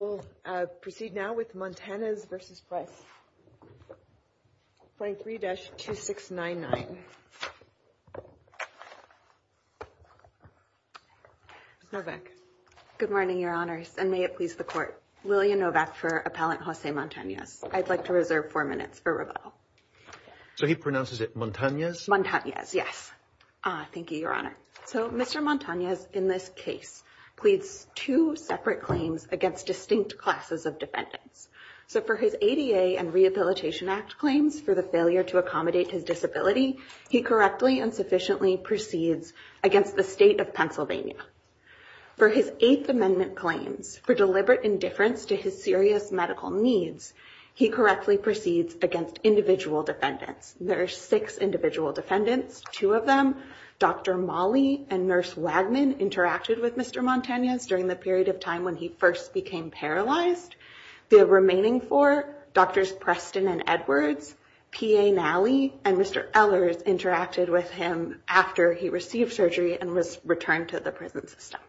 We'll proceed now with Montanez v. Price, 23-2699. Ms. Novak. Good morning, Your Honors, and may it please the Court. Lillian Novak for Appellant Jose Montanez. I'd like to reserve four minutes for rebuttal. So he pronounces it Montanez? Montanez, yes. Thank you, Your Honor. So Mr. Montanez in this case pleads two separate claims against distinct classes of defendants. So for his ADA and Rehabilitation Act claims for the failure to accommodate his disability, he correctly and sufficiently proceeds against the state of Pennsylvania. For his Eighth Amendment claims for deliberate indifference to his serious medical needs, he correctly proceeds against individual defendants. There are six individual defendants. Two of them, Dr. Mollie and Nurse Wagnon, interacted with Mr. Montanez during the period of time when he first became paralyzed. The remaining four, Drs. Preston and Edwards, P.A. Nally, and Mr. Ehlers, interacted with him after he received surgery and was returned to the prison system.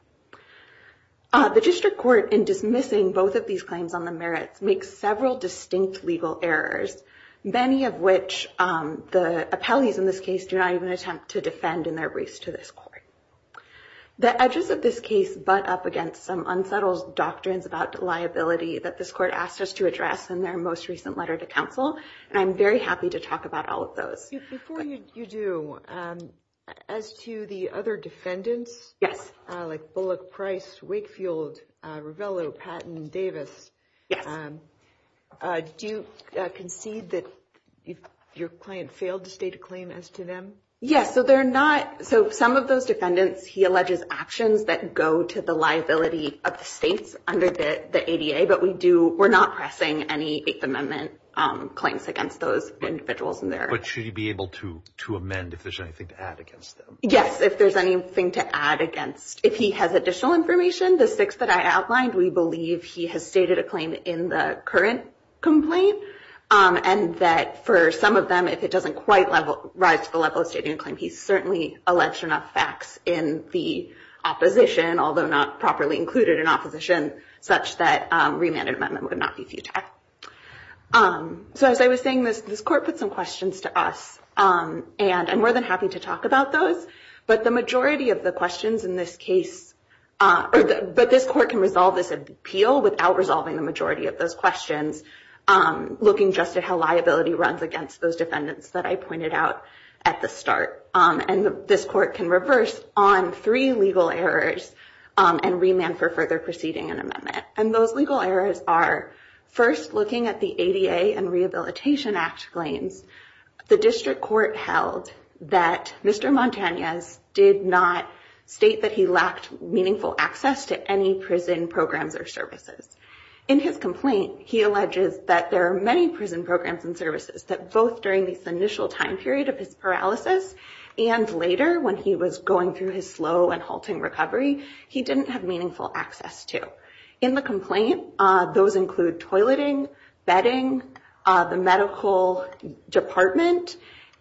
The District Court, in dismissing both of these claims on the merits, makes several distinct legal errors, many of which the appellees in this case do not even attempt to defend in their race to this court. The edges of this case butt up against some unsettled doctrines about liability that this court asked us to address in their most recent letter to counsel, and I'm very happy to talk about all of those. Before you do, as to the other defendants? Yes. Like Bullock, Price, Wakefield, Ravello, Patton, Davis. Do you concede that your client failed to state a claim as to them? Yes, so they're not, so some of those defendants, he alleges, actions that go to the liability of the states under the ADA, but we do, we're not pressing any Eighth Amendment claims against those individuals in there. But should he be able to, to amend if there's anything to add against them? Yes, if there's anything to add against. If he has additional information, the six that I outlined, we believe he has stated a claim in the current complaint, and that for some of them, if it doesn't quite rise to the level of stating a claim, he's certainly alleged enough facts in the opposition, although not properly included in opposition, such that remand and amendment would not be futile. So as I was saying, this court put some questions to us, and I'm more than happy to talk about those, but the majority of the questions in this case, but this court can resolve this appeal without resolving the majority of those questions, looking just at how liability runs against those defendants that I pointed out at the start. And this court can reverse on three legal errors and remand for further proceeding and amendment. And those legal errors are first looking at the Rehabilitation Act claims. The district court held that Mr. Montanez did not state that he lacked meaningful access to any prison programs or services. In his complaint, he alleges that there are many prison programs and services that both during this initial time period of his paralysis and later when he was going through his slow and halting recovery, he didn't have access to. In the complaint, those include toileting, bedding, the medical department,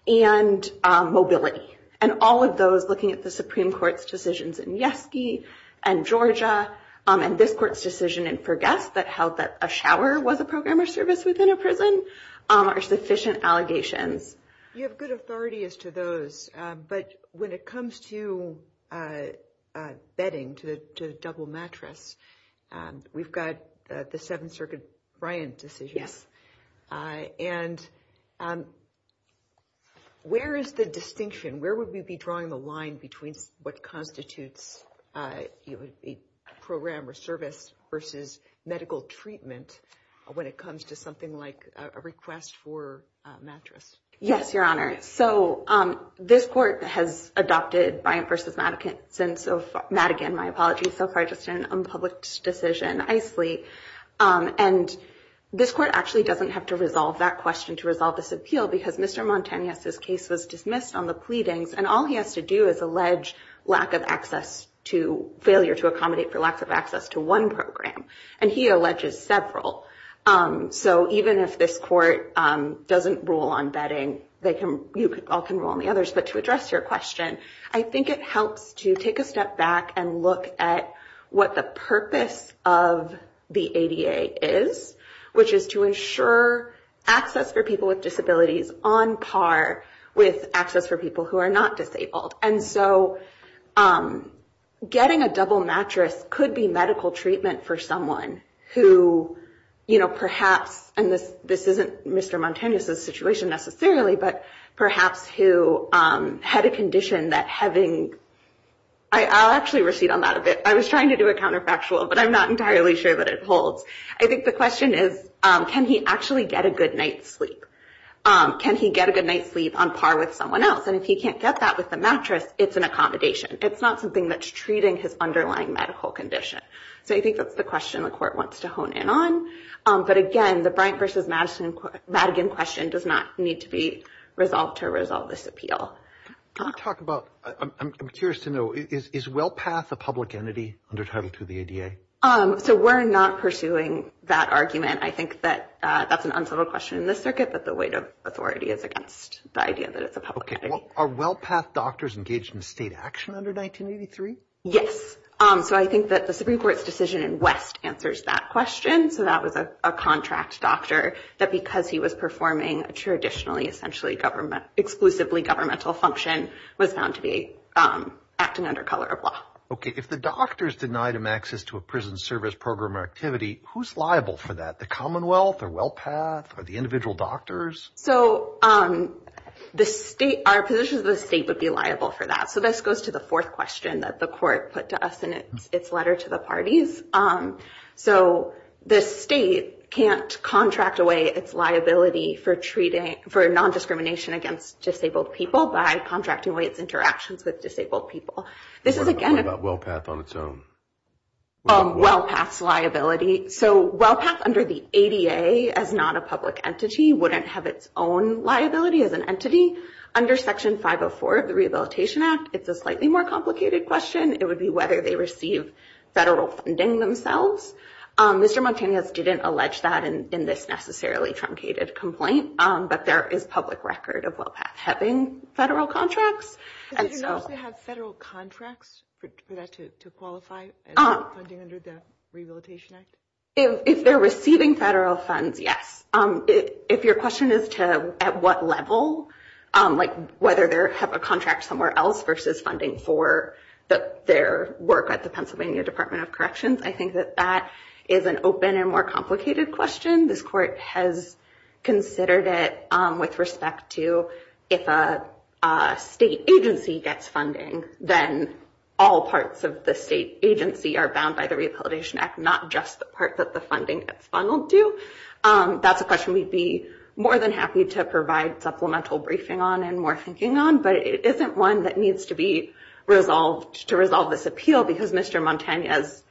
and mobility. And all of those, looking at the Supreme Court's decisions in Yeski and Georgia, and this court's decision in Fergus that held that a shower was a program or service within a prison, are sufficient allegations. You have good authority as to those, but when it comes to bedding, to double mattress, we've got the Seventh Circuit Bryant decision. And where is the distinction? Where would we be drawing the line between what constitutes program or service versus medical treatment when it comes to something like a request for mattress? Yes, Your Honor. So this court has adopted Bryant v. Madigan, my apologies, so far just an unpublished decision, ICELI. And this court actually doesn't have to resolve that question to resolve this appeal because Mr. Montanez's case was dismissed on the pleadings, and all he has to do is allege lack of access to, failure to accommodate for lack of access to one program. And he alleges several. So even if this court doesn't rule on bedding, you all can rule on the others. But to address your question, I think it helps to take a step back and look at what the purpose of the ADA is, which is to ensure access for people with disabilities on par with access for people who are not disabled. And so getting a double mattress could be medical treatment for someone who, you know, perhaps, and this isn't Mr. Montanez's situation necessarily, but perhaps who had a condition that having, I'll actually recede on that a bit. I was trying to do a counterfactual, but I'm not entirely sure that it holds. I think the question is, can he actually get a good night's sleep? Can he get a good night's sleep on par with someone else? And if he can't get that with the mattress, it's an accommodation. It's not something that's treating his underlying medical condition. So I think that's the question the court wants to hone in on. But again, the Bryant versus Madigan question does not need to be resolved to resolve this appeal. Can you talk about, I'm curious to know, is WellPath a public entity under Title II of the ADA? So we're not pursuing that argument. I think that that's an unsubtle question in this circuit, but the weight of authority is against the idea that it's a public entity. Are WellPath doctors engaged in state action under 1983? Yes. So I think that the Supreme Court's decision in West answers that question. So that was a contract doctor that because he was performing a traditionally essentially government, exclusively governmental function, was found to be acting under color of law. Okay. If the doctors denied him access to a prison service program or activity, who's liable for that? The Commonwealth or WellPath or the individual doctors? So our position is the state would be liable for that. So this goes to the fourth question that the court put to us in its letter to the parties. So the state can't contract away its liability for non-discrimination against disabled people by contracting away its interactions with disabled people. This is again- What about WellPath on its own? WellPath's liability. So WellPath under the ADA as not a public entity wouldn't have its own liability as an entity. Under Section 504 of the Rehabilitation Act, it's a slightly more complicated question. It would be whether they receive federal funding themselves. Mr. Montanez didn't allege that in this necessarily truncated complaint, but there is public record of WellPath having federal contracts. Do they actually have federal contracts for that to qualify as funding under the Rehabilitation Act? If they're receiving federal funds, yes. If your question is to at what level, like whether they have a contract somewhere else versus funding for their work at the Pennsylvania Department of Corrections, I think that that is an open and more complicated question. This court has considered it with respect to if a state agency gets funding, then all parts of the state agency are bound by the Rehabilitation Act, not just the part that the funding gets funneled to. That's a question we'd more than happy to provide supplemental briefing on and more thinking on, but it isn't one that needs to be resolved to resolve this appeal because Mr. Montanez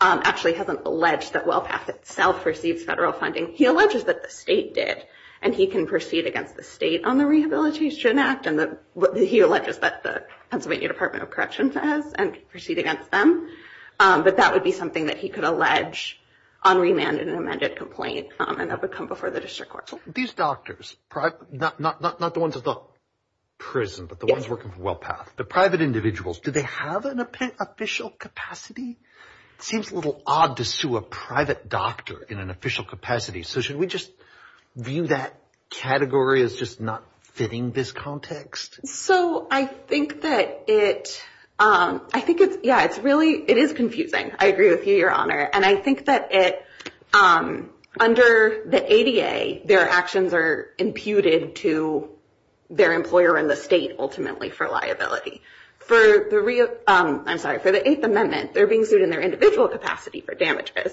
actually hasn't alleged that WellPath itself receives federal funding. He alleges that the state did, and he can proceed against the state on the Rehabilitation Act, and he alleges that the Pennsylvania Department of Corrections has, and proceed against them. But that would be something that he could allege on remand in an amended complaint, and that would come before the district court. These doctors, not the ones at the prison, but the ones working for WellPath, the private individuals, do they have an official capacity? It seems a little odd to sue a private doctor in an official capacity. So should we just view that category as just not fitting this context? So I think that it, I think it's, yeah, it's really, it is confusing. I agree with you, and I think that it, under the ADA, their actions are imputed to their employer in the state ultimately for liability. For the, I'm sorry, for the Eighth Amendment, they're being sued in their individual capacity for damages.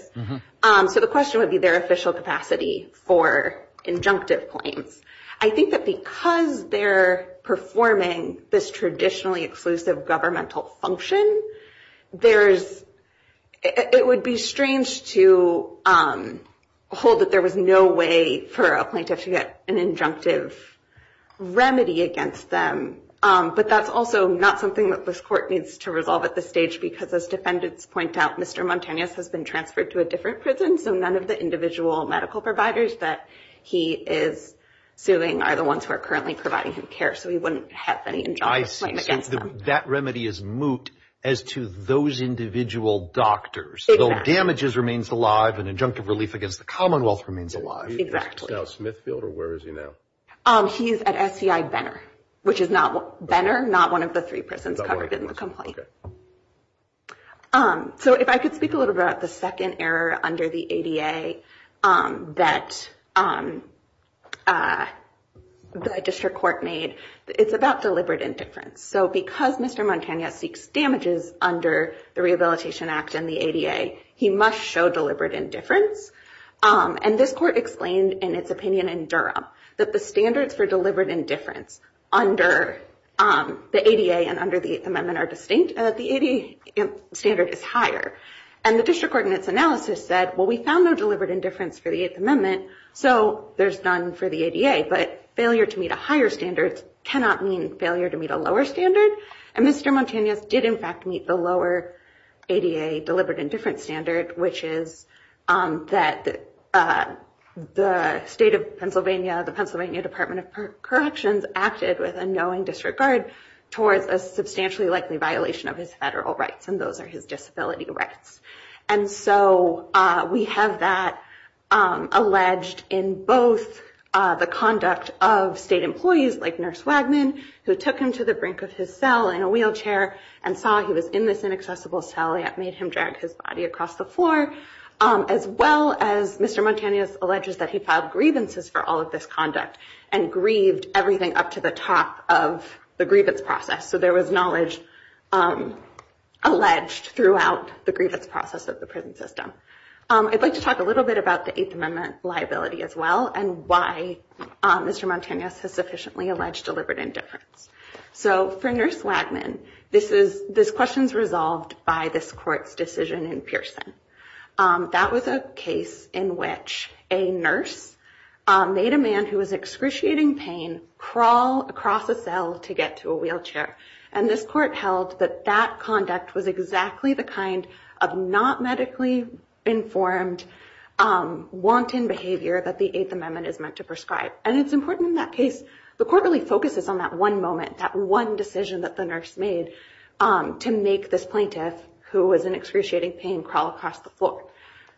So the question would be their official capacity for injunctive claims. I think that because they're performing this traditionally exclusive governmental function, there's, it would be strange to hold that there was no way for a plaintiff to get an injunctive remedy against them. But that's also not something that this court needs to resolve at this stage, because as defendants point out, Mr. Montanez has been transferred to a different prison, so none of the individual medical providers that he is suing are the ones who are currently providing him care, so he wouldn't have any injunctive claim against them. I see. So that remedy is moot as to those individual doctors. Exactly. So damages remains alive, and injunctive relief against the Commonwealth remains alive. Exactly. Now, Smithfield, or where is he now? He's at SCI Benner, which is not, Benner, not one of the three prisons covered in the complaint. Okay. So if I could speak a little about the second error under the ADA that the district court made. It's about deliberate indifference. So because Mr. Montanez seeks damages under the Rehabilitation Act and the ADA, he must show deliberate indifference. And this court explained in its opinion in Durham that the standards for deliberate indifference under the ADA and under the Eighth Amendment are distinct, and that the ADA standard is higher. And the district ordinance analysis said, well, we found no deliberate indifference for the Eighth Amendment, so there's none for the ADA. But failure to meet a higher standard cannot mean failure to meet a lower standard. And Mr. Montanez did, in fact, meet the lower ADA deliberate indifference standard, which is that the state of Pennsylvania, the Pennsylvania Department of Corrections, acted with a knowing disregard towards a substantially likely violation of his federal rights, and those are his disability rights. And so we have that alleged in both the conduct of state employees like Nurse Wagman, who took him to the brink of his cell in a wheelchair and saw he was in this inaccessible cell that made him drag his body across the floor, as well as Mr. Montanez alleges that he grieved everything up to the top of the grievance process. So there was knowledge alleged throughout the grievance process of the prison system. I'd like to talk a little bit about the Eighth Amendment liability as well, and why Mr. Montanez has sufficiently alleged deliberate indifference. So for Nurse Wagman, this question is resolved by this court's decision in Pearson. That was a case in which a nurse made a man who was excruciating pain crawl across a cell to get to a wheelchair. And this court held that that conduct was exactly the kind of not medically informed, wanton behavior that the Eighth Amendment is meant to prescribe. And it's important in that case, the court really focuses on that one moment, that one decision that the nurse made to make this plaintiff who was in excruciating pain crawl across the floor.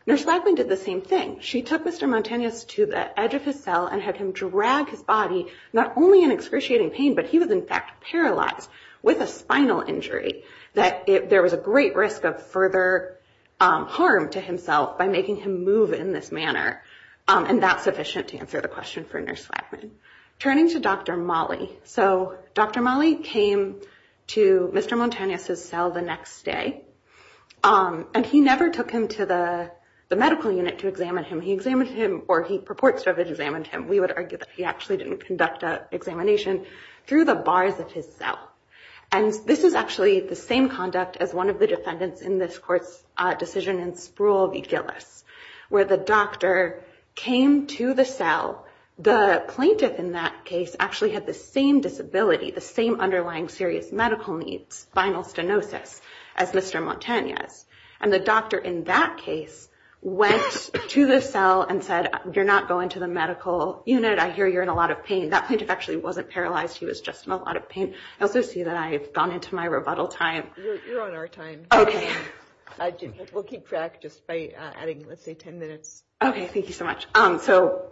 Nurse Wagman did the same thing. She took Mr. Montanez to the edge of his cell and had him drag his body, not only in excruciating pain, but he was in fact paralyzed with a spinal injury, that there was a great risk of further harm to himself by making him move in this manner. And that's sufficient to answer the question for Nurse Wagman. Turning to Dr. Molley. So Dr. Molley came to Mr. Montanez's cell the next day. And he never took him to the medical unit to examine him. He examined him, or he purports to have examined him. We would argue that he actually didn't conduct an examination through the bars of his cell. And this is actually the same conduct as one of the defendants in this decision in Sproul v. Gillis, where the doctor came to the cell. The plaintiff in that case actually had the same disability, the same underlying serious medical needs, spinal stenosis, as Mr. Montanez. And the doctor in that case went to the cell and said, you're not going to the medical unit. I hear you're in a lot of pain. That plaintiff actually wasn't paralyzed. He was just in a lot of pain. I also see that I've gone into my rebuttal time. You're on our time. Okay. We'll keep track just by adding, let's say, 10 minutes. Okay. Thank you so much. So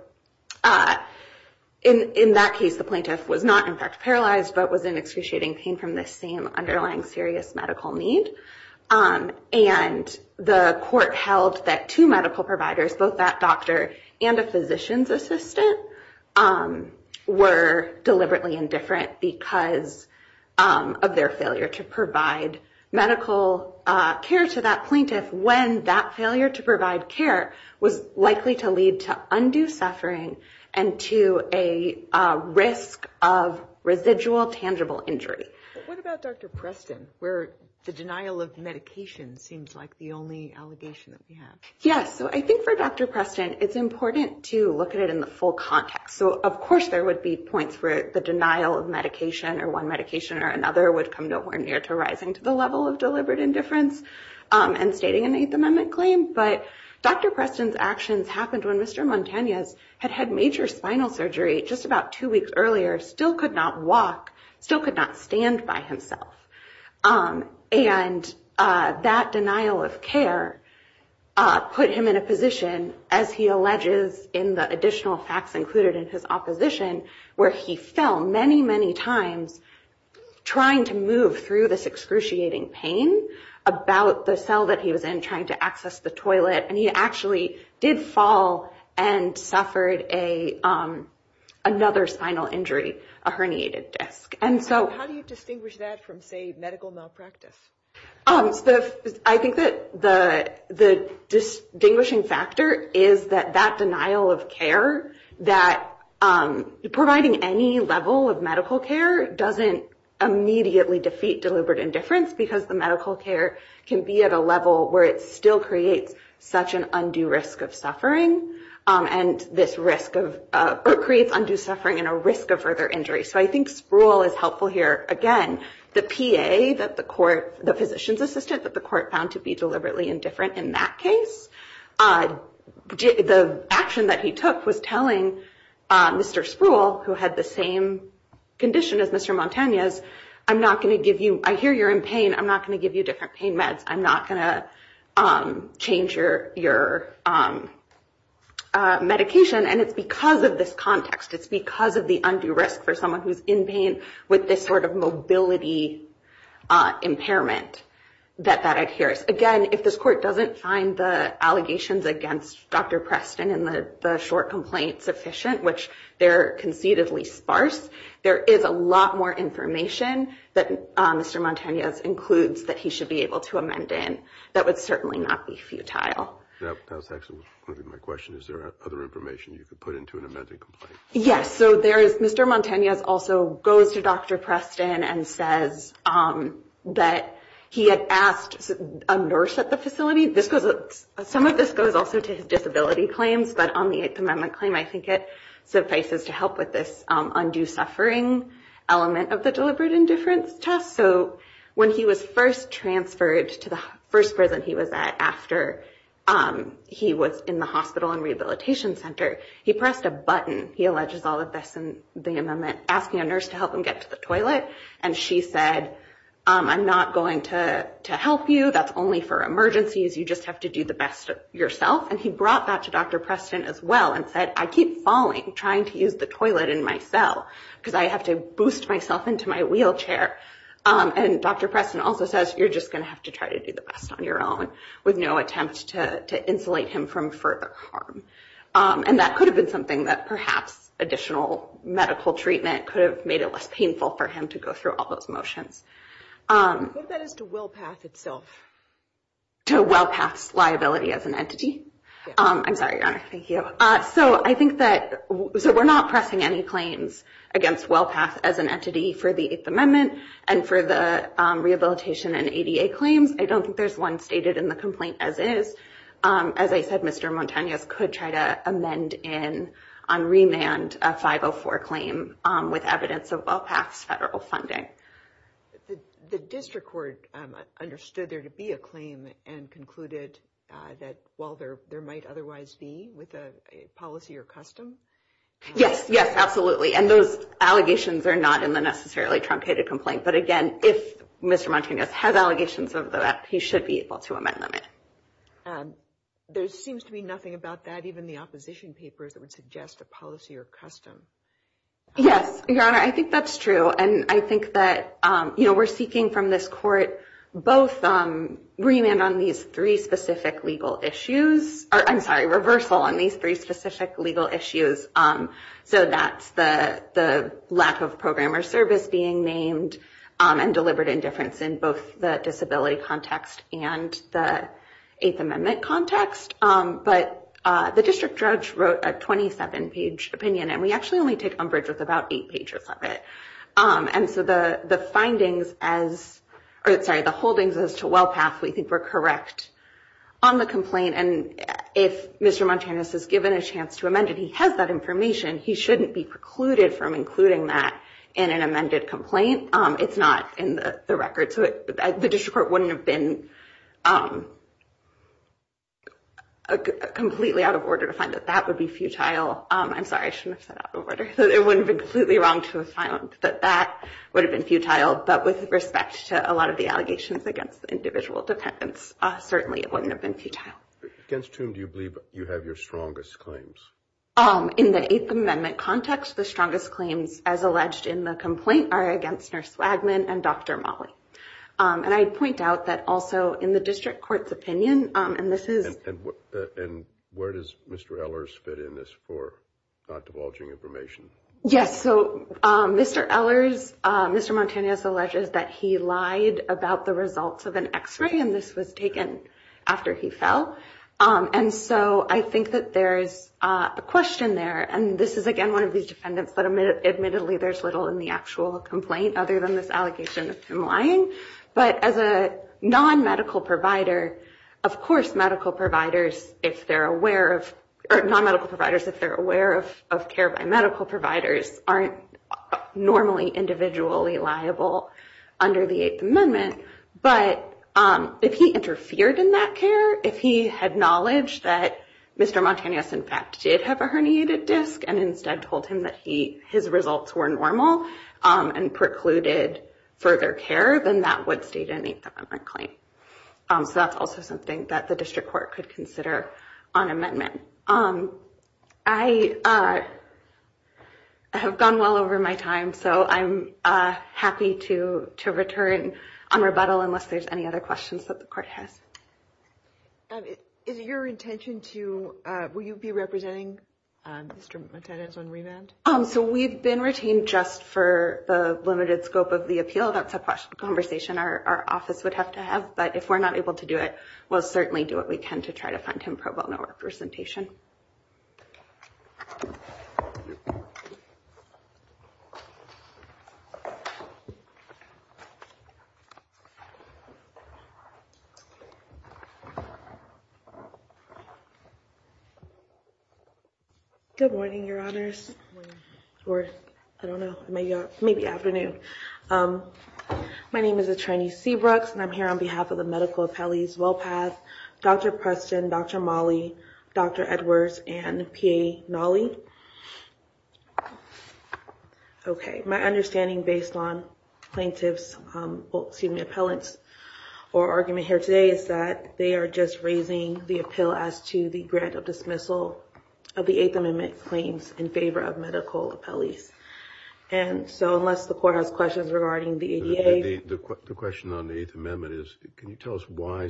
in that case, the plaintiff was not, in fact, paralyzed, but was in excruciating pain from the same underlying serious medical need. And the court held that two medical providers, both that doctor and a physician's assistant, were deliberately indifferent because of their failure to provide medical care to that plaintiff when that failure to provide care was likely to lead to undue suffering and to a risk of residual tangible injury. What about Dr. Preston, where the denial of medication seems like the only allegation that we have? Yeah. So I think for Dr. Preston, it's important to look at it in the full context. So medication or one medication or another would come to where near to rising to the level of deliberate indifference and stating an Eighth Amendment claim. But Dr. Preston's actions happened when Mr. Montanez had had major spinal surgery just about two weeks earlier, still could not walk, still could not stand by himself. And that denial of care put him in a position, as he in the additional facts included in his opposition, where he fell many, many times trying to move through this excruciating pain about the cell that he was in trying to access the toilet. And he actually did fall and suffered another spinal injury, a herniated disc. And so how do you distinguish that from, say, medical malpractice? So I think that the distinguishing factor is that that denial of care, that providing any level of medical care doesn't immediately defeat deliberate indifference, because the medical care can be at a level where it still creates such an undue risk of suffering and this risk of creates undue suffering and a risk of further injury. So I think Spruill is helpful here. Again, the PA that the court, the physician's assistant that the court found to be deliberately indifferent in that case, the action that he took was telling Mr. Spruill, who had the same condition as Mr. Montanez, I'm not going to give you, I hear you're in pain, I'm not going to give you different pain meds. I'm not going to change your medication. And it's because of this context. It's because of the undue risk for someone who's in pain with this sort of mobility impairment that that adheres. Again, if this court doesn't find the allegations against Dr. Preston and the short complaint sufficient, which they're conceivably sparse, there is a lot more information that Mr. Montanez includes that he should be able to amend in that would certainly not be futile. That was excellent. My question is, are there other information you could put into an amended complaint? Yes. So there is, Mr. Montanez also goes to Dr. Preston and says that he had asked a nurse at the facility. Some of this goes also to his disability claims, but on the Eighth Amendment claim, I think it suffices to help with this undue suffering element of the deliberate indifference test. So when he was first transferred to the first prison he was at after he was in the center, he pressed a button, he alleges all of this in the amendment, asking a nurse to help him get to the toilet. And she said, I'm not going to help you. That's only for emergencies. You just have to do the best yourself. And he brought that to Dr. Preston as well and said, I keep falling trying to use the toilet in my cell because I have to boost myself into my wheelchair. And Dr. Preston also says, you're just going to have to try to do the best on your own with no attempt to insulate him from further harm. And that could have been something that perhaps additional medical treatment could have made it less painful for him to go through all those motions. What about as to WellPath itself? To WellPath's liability as an entity? I'm sorry, Your Honor. Thank you. So I think that, so we're not pressing any claims against WellPath as an entity for the Eighth Amendment and for the rehabilitation and ADA claims. I don't think there's one stated in the complaint as is. As I said, Mr. Montanez could try to amend in, on remand, a 504 claim with evidence of WellPath's federal funding. The district court understood there to be a claim and concluded that, well, there might otherwise be with a policy or custom? Yes, yes, absolutely. And those allegations are not in the necessarily truncated complaint. But again, if Mr. Montanez has allegations of that, he should be able to amend them. There seems to be nothing about that, even the opposition papers that would suggest a policy or custom. Yes, Your Honor, I think that's true. And I think that, you know, we're seeking from this court both remand on these three specific legal issues, or I'm sorry, reversal on these three specific legal issues. So that's the lack of program or service being named and deliberate indifference in both the disability context and the Eighth Amendment context. But the district judge wrote a 27-page opinion, and we actually only take umbrage with about eight pages of it. And so the findings as, or sorry, the holdings as to WellPath, we think we're correct on the complaint. And if Mr. Montanez is given a chance to amend it, he has that information, he shouldn't be precluded from including that in an amended complaint. It's not in the record. So the district court wouldn't have been completely out of order to find that that would be futile. I'm sorry, I shouldn't have said out of order. It wouldn't have been completely wrong to have found that that would have been futile. But with respect to a lot of the allegations against individual defendants, certainly it wouldn't have been futile. Against whom do you believe you have your claims? In the Eighth Amendment context, the strongest claims as alleged in the complaint are against Nurse Swagman and Dr. Mollie. And I point out that also in the district court's opinion, and this is... And where does Mr. Ehlers fit in this for divulging information? Yes. So Mr. Ehlers, Mr. Montanez alleges that he lied about the results of an x-ray, and this was taken after he fell. And so I think that there's a question there. And this is, again, one of these defendants that admittedly there's little in the actual complaint other than this allegation of him lying. But as a non-medical provider, of course, medical providers, if they're aware of... Non-medical providers, if they're aware of care by medical providers, aren't normally individually liable under the Eighth Amendment. But if he interfered in that care, if he had knowledge that Mr. Montanez, in fact, did have a herniated disc and instead told him that his results were normal and precluded further care, then that would state an Eighth Amendment claim. So that's also something that the district court could consider on amendment. I have gone well over my time, so I'm happy to return on rebuttal unless there's any other questions that the court has. Is it your intention to... Will you be representing Mr. Montanez on remand? So we've been retained just for the limited scope of the appeal. That's a conversation our office would have to have. But if we're not able to do it, we'll certainly do what we can to try to find him pro bono representation. Good morning, Your Honors. Or, I don't know, maybe afternoon. My name is Atrani Seabrooks, and I'm here on behalf of the medical appellees, Wellpath, Dr. Preston, Dr. Molley, Dr. Edwards, and PA Nolley. Okay, my understanding based on plaintiff's, excuse me, appellant's argument here today is that they are just raising the appeal as to the grant of dismissal of the Eighth Amendment claims in favor of medical appellees. And so unless the court has questions regarding the ADA... The question on the Eighth Amendment is, can you tell us why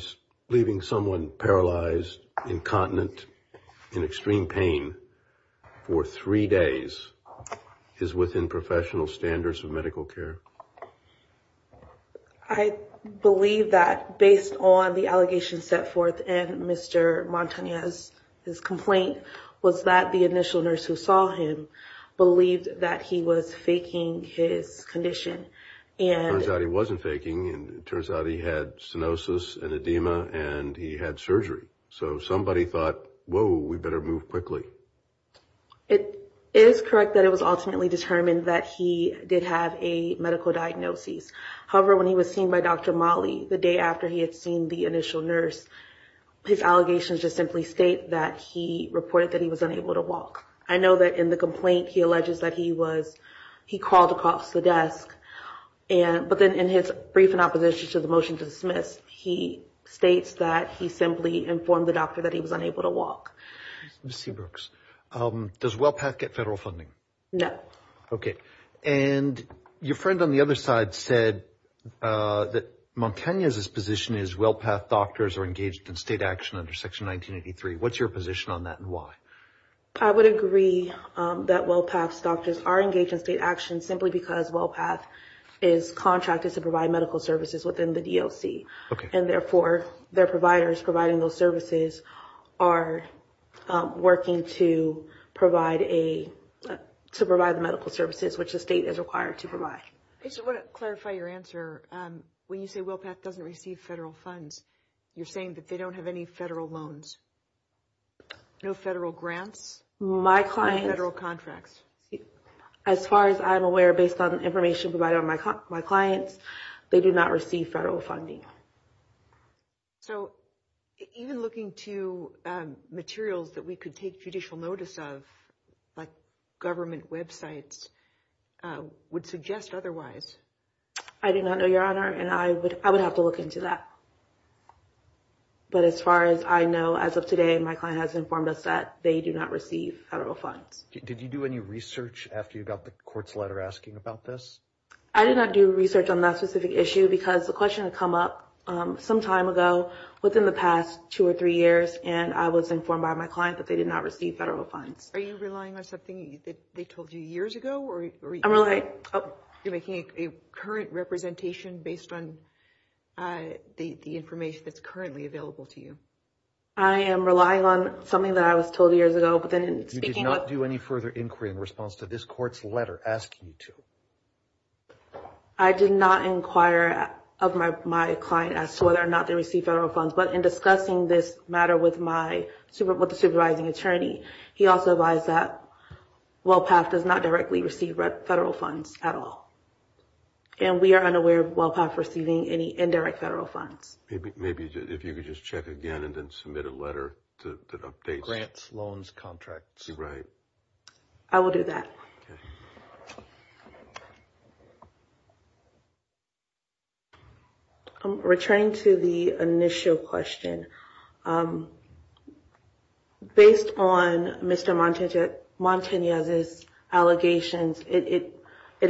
leaving someone paralyzed, incontinent, in extreme pain for three days is within professional standards of medical care? I believe that based on the allegations set forth in Mr. Montanez's complaint was that the initial nurse who saw him believed that he was faking his condition. It turns out he wasn't faking, and it turns out he had stenosis and edema, and he had surgery. So somebody thought, whoa, we better move quickly. It is correct that it was ultimately determined that he did have a medical diagnosis. However, when he was seen by Dr. Molley the day after he had seen the initial nurse, his allegations just simply state that he reported that he was unable to walk. I know that in the complaint he alleges that he crawled across the desk, but then in his brief in opposition to the motion to dismiss, he states that he simply informed the doctor that he was unable to walk. Ms. Seabrooks, does WellPath get federal funding? No. Okay. And your friend on the other side said that Montanez's position is WellPath doctors are engaged in state action under Section 1983. What's your position on that and why? I would agree that WellPath's doctors are engaged in state action simply because WellPath is contracted to provide medical services within the DOC. Okay. And therefore, their providers providing those services are working to provide a to provide the medical services which the state is required to provide. I just want to clarify your answer. When you say WellPath doesn't receive federal funds, you're saying that they don't have any federal loans, no federal grants, no federal contracts. As far as I'm aware, based on the information provided on my clients, they do not receive federal funding. So even looking to materials that we could take judicial notice of, like government websites, would suggest otherwise. I do not know, Your Honor, and I would have to look into that. But as far as I know, as of today, my client has informed us that they do not receive federal funds. Did you do any research after you got the court's letter asking about this? I did not do research on that specific issue because the question had come up some time ago within the two or three years, and I was informed by my client that they did not receive federal funds. Are you relying on something that they told you years ago? You're making a current representation based on the information that's currently available to you. I am relying on something that I was told years ago. You did not do any further inquiry in response to this court's letter asking you to. I did not inquire of my client as to whether or not they received federal funds. But in discussing this matter with my supervising attorney, he also advised that WellPath does not directly receive federal funds at all. And we are unaware of WellPath receiving any indirect federal funds. Maybe if you could just check again and then submit a letter to update. Grants, loans, contracts. Right. I will do that. Okay. I'm returning to the initial question. Based on Mr. Montanez's allegations, it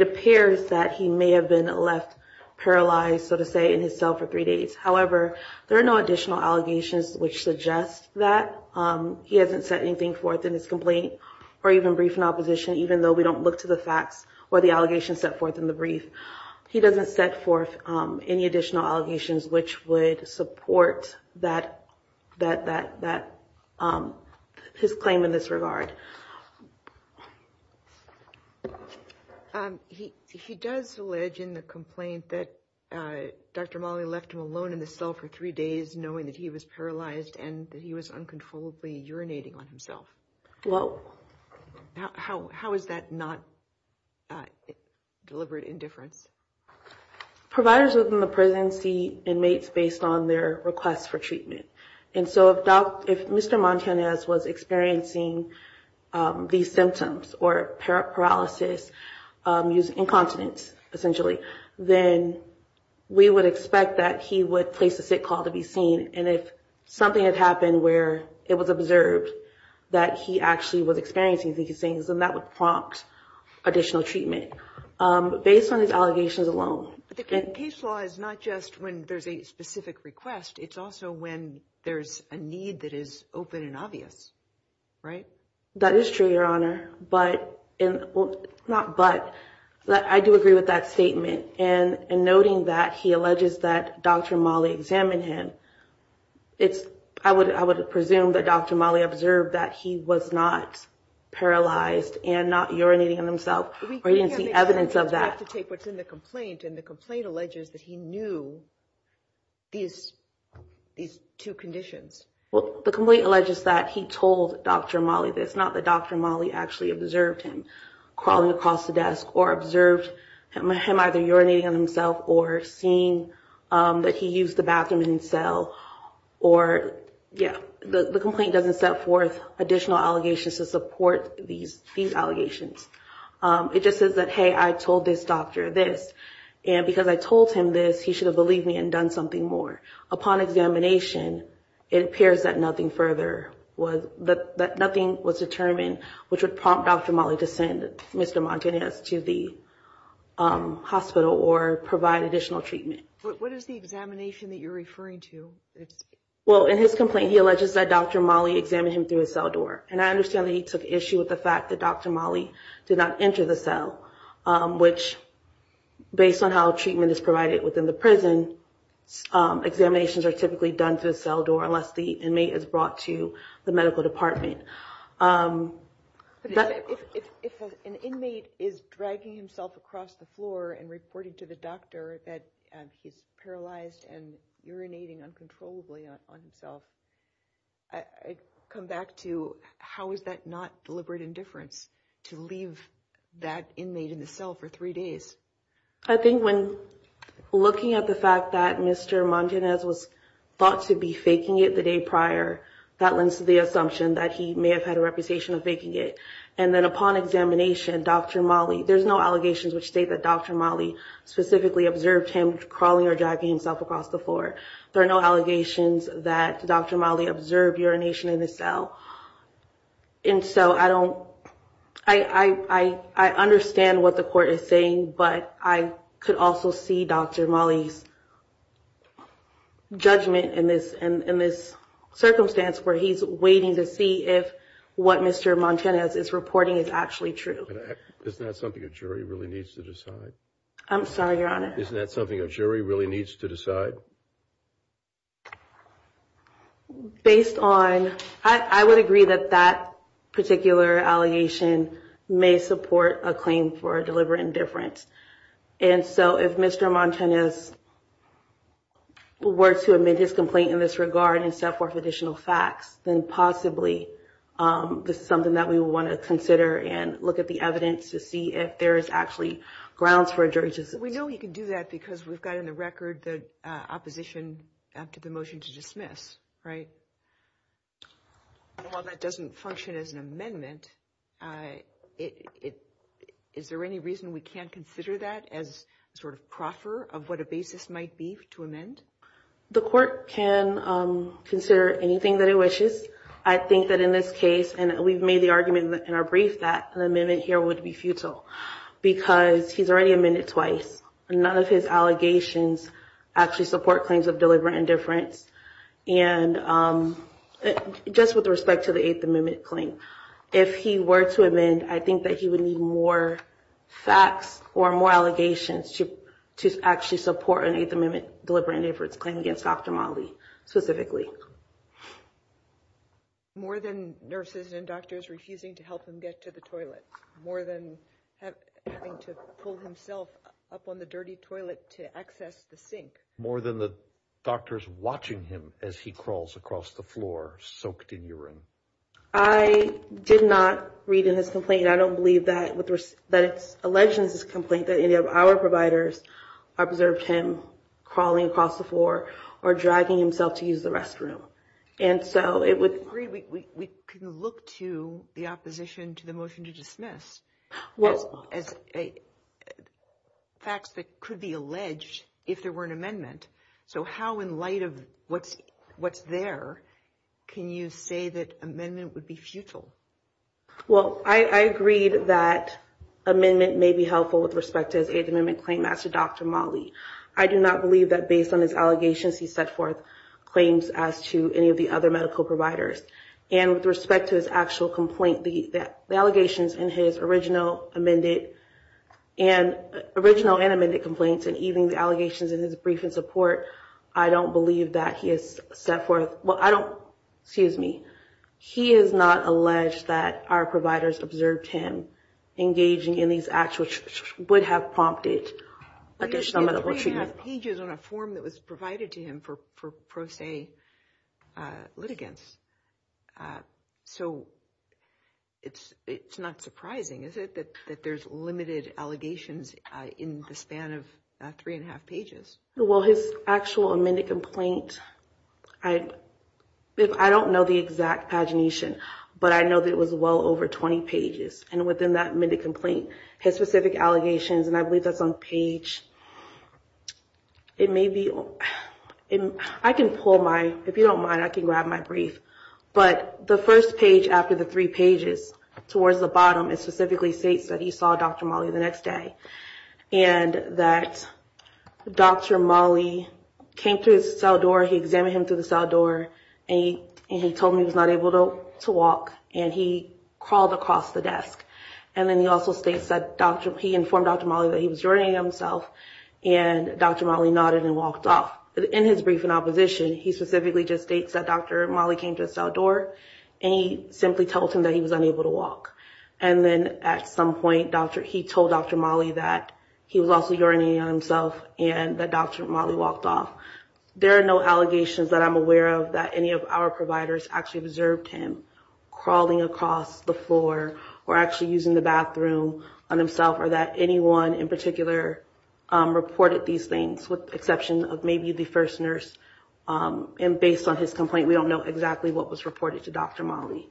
appears that he may have been left paralyzed, so to say, in his cell for three days. However, there are no additional allegations which suggest that. He hasn't set anything forth in his complaint or even briefed in opposition, even though we don't look to the facts or the allegations set forth in the brief. He doesn't set forth any additional allegations which would support that his claim in this regard. He does allege in the complaint that Dr. Mali left him alone in the cell for three days, knowing that he was paralyzed and that he was uncontrollably urinating on himself. Well, how is that not deliberate indifference? Providers within the prison see inmates based on their requests for treatment. And so if Mr. Montanez was experiencing these symptoms or paralysis, using incontinence, essentially, then we would expect that he would place a sick call to be seen. And if something had happened where it was observed that he actually was experiencing these things, then that would prompt additional treatment based on his allegations alone. But the case law is not just when there's a specific request. It's also when there's a need that is open and obvious, right? That is true, Your Honor. But, not but, I do agree with that statement. And noting that he that Dr. Mali examined him, I would presume that Dr. Mali observed that he was not paralyzed and not urinating on himself, or he didn't see evidence of that. We have to take what's in the complaint, and the complaint alleges that he knew these two conditions. Well, the complaint alleges that he told Dr. Mali this, not that Dr. Mali actually observed him crawling across the desk or observed him either urinating on himself or seeing that he used the bathroom in his cell. Or, yeah, the complaint doesn't set forth additional allegations to support these allegations. It just says that, hey, I told this doctor this, and because I told him this, he should have believed me and done something more. Upon examination, it appears that nothing further was determined, which would prompt Dr. Mali to send Mr. Montanez to the hospital or provide additional treatment. What is the examination that you're referring to? Well, in his complaint, he alleges that Dr. Mali examined him through a cell door, and I understand that he took issue with the fact that Dr. Mali did not enter the cell, which, based on how treatment is provided within the prison, examinations are typically done through a cell door unless the inmate is brought to the medical department. If an inmate is dragging himself across the floor and reporting to the doctor that he's paralyzed and urinating uncontrollably on himself, I come back to how is that not deliberate indifference to leave that inmate in the cell for three days? I think when looking at the fact that Mr. Montanez was thought to be faking it the day prior, that lends to the assumption that he may have had a reputation of faking it. And then upon examination, Dr. Mali, there's no allegations which state that Dr. Mali specifically observed him crawling or dragging himself across the floor. There are no allegations that Dr. Mali observed urination in the cell. And so I don't, I understand what the court is saying, but I could also see Dr. Mali's judgment in this circumstance where he's waiting to see if what Mr. Montanez is reporting is actually true. But isn't that something a jury really needs to decide? I'm sorry, Your Honor. Isn't that something a jury really needs to decide? Based on, I would agree that that particular allegation may support a claim for a deliberate indifference. And so if Mr. Montanez were to admit his complaint in this regard and set forth additional facts, then possibly this is something that we would want to consider and look at the evidence to see if there is actually grounds for a jury decision. We know you can do that because we've got in the record the opposition after the motion to dismiss, right? While that doesn't function as an amendment, is there any reason we can't consider that as a sort of proffer of what a basis might be to amend? The court can consider anything that it wishes. I think that in this case, and we've made the argument in our brief that an amendment here would be futile because he's already amended twice. None of his allegations actually support claims of deliberate indifference. And just with respect to the Eighth Amendment claim, if he were to amend, I think that he would need more facts or more allegations to actually support an Eighth Amendment deliberate indifference claim against Dr. Motley specifically. More than nurses and doctors refusing to help him get to the toilet, more than having to pull himself up on the dirty toilet to access the sink. More than the doctors watching him as he crawls across the floor soaked in urine. I did not read in his complaint. I don't believe that it's alleged in his complaint that any of our providers observed him crawling across the floor or dragging himself to use the restroom. And so it would... We can look to the opposition to the motion to dismiss. As facts that could be alleged if there were an amendment. So how, in light of what's there, can you say that amendment would be futile? Well, I agreed that amendment may be helpful with respect to his Eighth Amendment claim as to Dr. Motley. I do not believe that based on his allegations, he set forth claims as to any of the other medical providers. And with respect to his actual complaint, the allegations in his original amended and original and amended complaints and even the allegations in his brief in support, I don't believe that he has set forth... Well, I don't... Excuse me. He is not alleged that our providers observed him engaging in these acts which would have prompted additional medical treatment. Pages on a form that was provided to him for pro se litigants. So it's not surprising, is it, that there's limited allegations in the span of three and a half pages? Well, his actual amended complaint, I don't know the exact pagination, but I know that it was well over 20 pages. And within that amended complaint, his specific allegations, and I believe that's on page it may be... I can pull my... If you don't mind, I can grab my brief. But the first page after the three pages towards the bottom, it specifically states that he saw Dr. Motley the next day. And that Dr. Motley came through his cell door, he examined him through the cell door, and he told him he was not able to walk. And he crawled across the desk. And then he also states that he informed Dr. Motley that he was joining himself and Dr. Motley nodded and walked off. In his brief in opposition, he specifically just states that Dr. Motley came to his cell door and he simply told him that he was unable to walk. And then at some point, he told Dr. Motley that he was also urinating on himself and that Dr. Motley walked off. There are no allegations that I'm aware of that any of our providers actually observed him crawling across the floor or actually using the bathroom on himself or that anyone in particular reported these things with the exception of maybe the first nurse. And based on his complaint, we don't know exactly what was reported to Dr. Motley.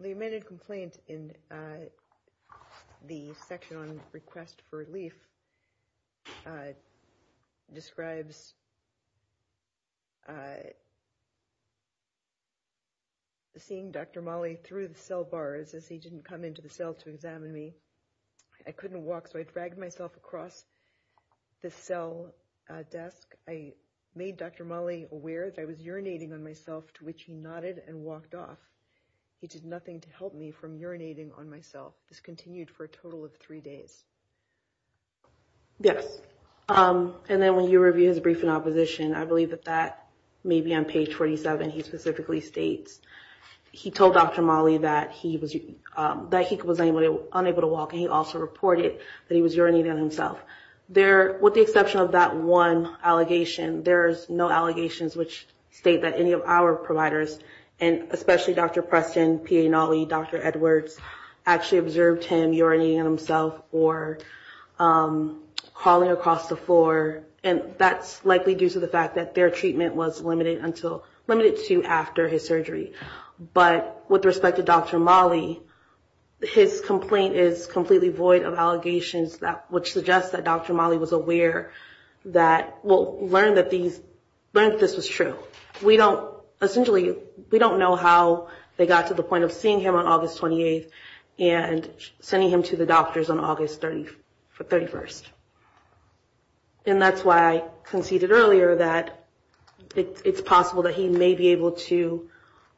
The amended complaint in the section on request for relief describes seeing Dr. Motley through the cell bars as he didn't come into the cell to examine me. I couldn't walk, so I dragged myself across the cell desk. I made Dr. Motley aware that I was urinating on myself, to which he nodded and walked off. He did nothing to help me from urinating on myself. This continued for a total of three days. Yes. And then when you review his brief in opposition, he states that he was not able to walk. I believe that that may be on page 47. He specifically states he told Dr. Motley that he was unable to walk and he also reported that he was urinating on himself. With the exception of that one allegation, there's no allegations which state that any of our providers, and especially Dr. Preston, P.A. Notley, Dr. Edwards, actually observed him urinating on himself or crawling across the and that's likely due to the fact that their treatment was limited to after his surgery. But with respect to Dr. Motley, his complaint is completely void of allegations which suggests that Dr. Motley was aware that, well, learned that this was true. We don't, essentially, we don't know how they got to the point of seeing him on August 28th and sending him to the doctors on August 31st. And that's why I conceded earlier that it's possible that he may be able to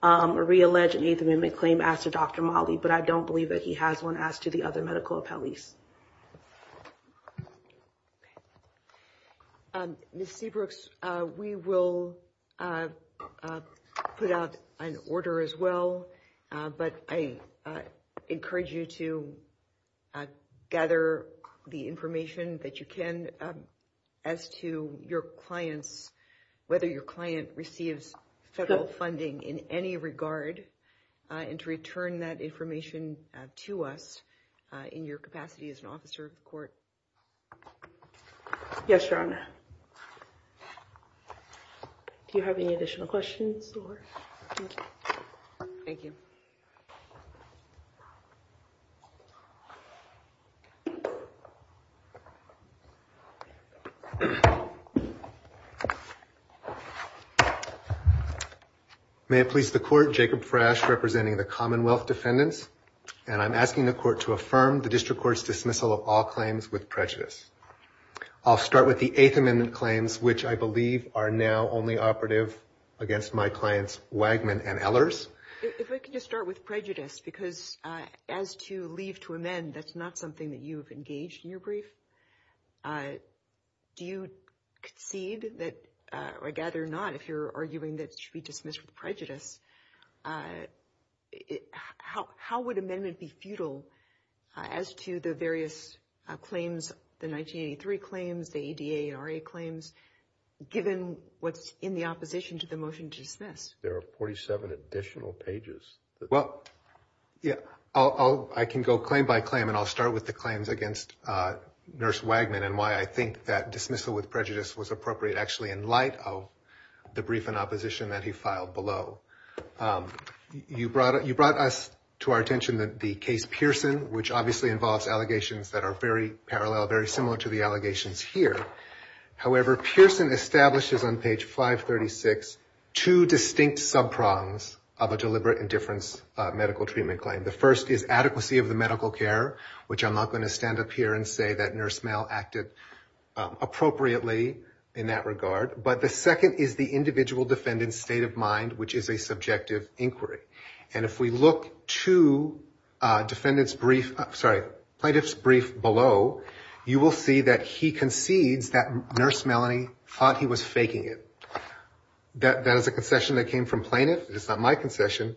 re-allege an Eighth Amendment claim as to Dr. Motley, but I don't believe that he has one as to the other medical appellees. Ms. Seabrooks, we will put out an order as well, but I encourage you to gather the information that you can as to your clients, whether your client receives federal funding in any regard, and to return that information to us in your capacity as an officer of the court. Yes, Your Honor. Do you have any additional questions? Thank you. May it please the court, Jacob Frasch, representing the Commonwealth Defendants, and I'm asking the court to affirm the District Court's dismissal of all claims with prejudice. I'll start with the Eighth Amendment claims, which I believe are now only operative against my clients, Wagman and Ehlers. If I could just start with prejudice, because as to leave to amend, that's not something that you've engaged in your brief. Do you concede that, or I gather not, if you're arguing that it should be dismissed with prejudice, how would amendment be futile as to the various claims, the 1983 claims, the ADA and RA claims, given what's in the opposition to the motion to dismiss? There are 47 additional pages. Well, yeah, I can go claim by claim, and I'll start with the claims against Nurse Wagman, and why I think that dismissal with prejudice was appropriate, actually, in light of the brief in opposition that he filed below. You brought us to our attention that the case Pearson, which obviously involves allegations that are very parallel, very similar to the allegations here. However, Pearson establishes on page 536 two distinct sub-prongs of a deliberate indifference medical treatment claim. The first is adequacy of the medical care, which I'm not going to stand up here and say that Nurse Male acted appropriately in that regard. But the second is the individual defendant's state of mind, which is a subjective inquiry. And if we look to plaintiff's brief below, you will see that he concedes Nurse Melanie thought he was faking it. That is a concession that came from plaintiff. It's not my concession.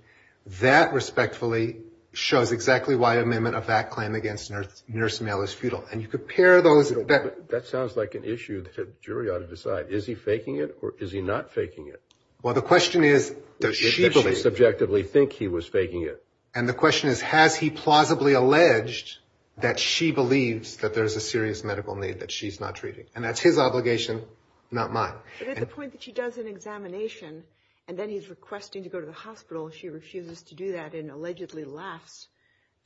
That respectfully shows exactly why amendment of that claim against Nurse Male is futile. And you compare those... That sounds like an issue the jury ought to decide. Is he faking it, or is he not faking it? Well, the question is, does she believe... Subjectively think he was faking it. And the question is, has he plausibly alleged that she believes that there's a serious medical need that she's not treating? And that's his obligation, not mine. But at the point that she does an examination, and then he's requesting to go to the hospital, she refuses to do that and allegedly laughs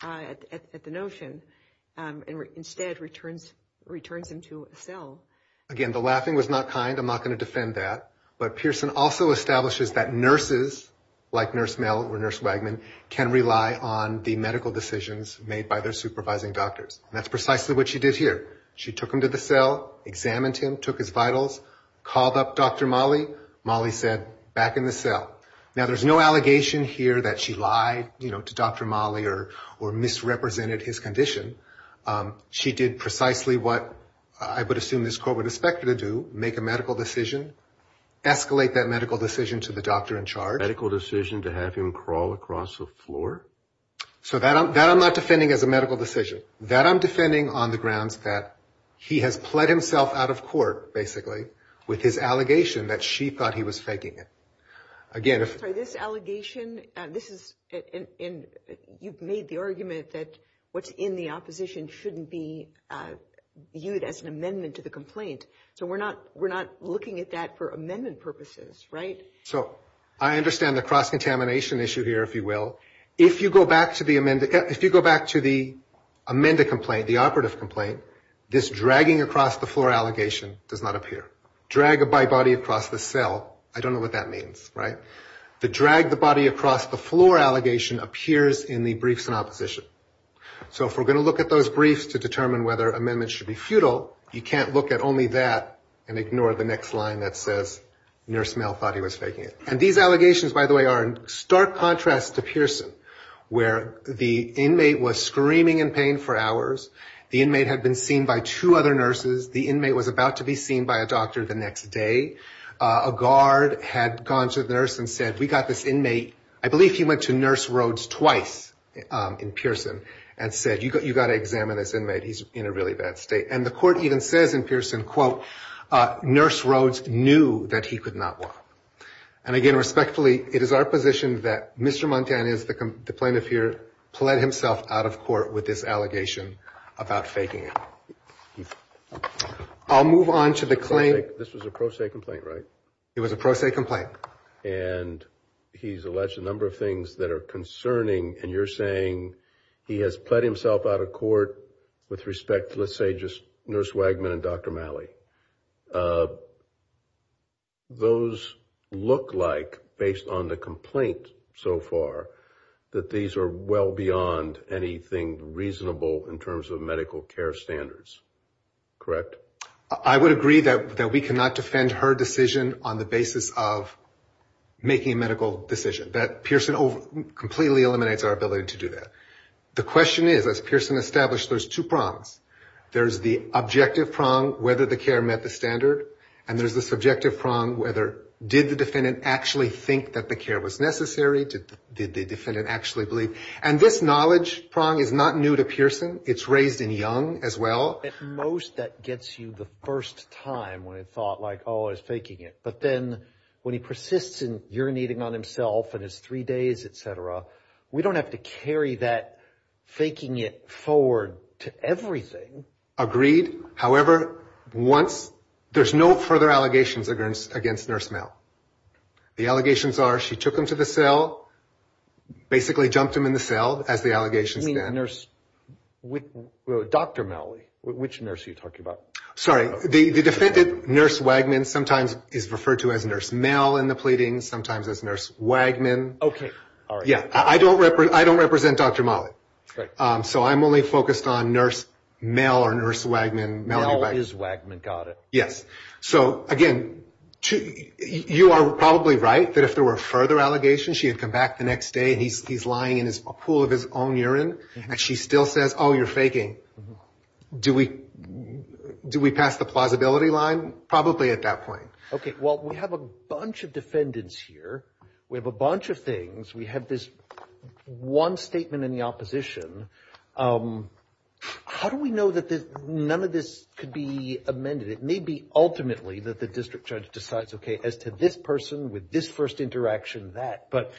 at the notion and instead returns him to a Again, the laughing was not kind. I'm not going to defend that. But Pearson also establishes that nurses, like Nurse Male or Nurse Wagman, can rely on the medical decisions made by their supervising doctors. And that's precisely what she did here. She took him to the cell, examined him, took his vitals, called up Dr. Molly. Molly said, back in the cell. Now, there's no allegation here that she lied to Dr. Molly or misrepresented his condition. She did precisely what I would assume this court would expect her to do, make a medical decision, escalate that medical decision to the doctor in charge. Medical decision to have him crawl across the floor? So that I'm not defending as a medical decision. That I'm defending on the grounds that he has pled himself out of court, basically, with his allegation that she thought he was faking it. Again, if this allegation, this is in you've made the argument that what's in the opposition shouldn't be viewed as an amendment to the complaint. So we're not we're not looking at that for amendment purposes, right? So I understand the cross contamination issue here, if you will. If you go back to the amended, if you go back to the amended complaint, the operative complaint, this dragging across the floor allegation does not appear. Drag a by body across the cell. I don't know what that means, right? The drag the body across the floor allegation appears in the briefs in opposition. So if we're going to look at those briefs to determine whether amendments should be futile, you can't look at only that and ignore the next line that says nurse Mel thought he was faking it. And these allegations, by the way, are in stark contrast to Pearson, where the inmate was screaming in pain for hours. The inmate had been seen by two other nurses. The inmate was about to be seen by a doctor the next day. A guard had gone to the nurse and said, we got this inmate. I believe he went to Nurse Rhodes twice in Pearson and said, you got to examine this inmate. He's in a really bad state. And the court even says in Pearson, quote, Nurse Rhodes knew that he could not walk. And again, respectfully, it is our position that Mr. Montan is the plaintiff here, pled himself out of court with this allegation about faking it. I'll move on to the claim. This was a pro se complaint, right? It was a pro se complaint. And he's alleged a number of things that are concerning. And you're saying he has pled himself out of court with respect to, let's say, just Nurse Wagman and Dr. Malley. Those look like, based on the complaint so far, that these are well beyond anything reasonable in terms of medical care standards, correct? I would agree that we cannot defend her decision on the basis of making a medical decision. That Pearson completely eliminates our ability to do that. The question is, as Pearson established, there's two prongs. There's the objective prong, whether the care met the standard. And there's the subjective prong, whether did the defendant actually think that the care was necessary? Did the defendant actually believe? And this knowledge prong is not new to Pearson. It's raised in Young as well. At most, that gets you the first time when it's thought like, oh, he's faking it. But then when he persists in urinating on himself and it's three days, et cetera, we don't have to carry that faking it forward to everything. Agreed. However, there's no further allegations against Nurse Malley. The allegations are she took him to the cell, basically jumped him in the cell, as the allegations stand. You mean Dr. Malley? Which nurse are you talking about? Sorry. The defendant, Nurse Wagman, sometimes is referred to as Nurse Malley in the pleadings, sometimes as Nurse Wagman. OK. All right. I don't represent Dr. Malley. So I'm only focused on Nurse Malley or Nurse Wagman. Malley is Wagman. Got it. Yes. So again, you are probably right that if there were further allegations, she had come back the next day and he's lying in a pool of his own urine and she still says, oh, you're faking, do we pass the plausibility line? Probably at that point. OK. Well, we have a bunch of defendants here. We have a bunch of things. We have this one statement in the opposition. How do we know that none of this could be amended? It may be ultimately that the district judge decides, OK, as to this person with this first interaction, that. But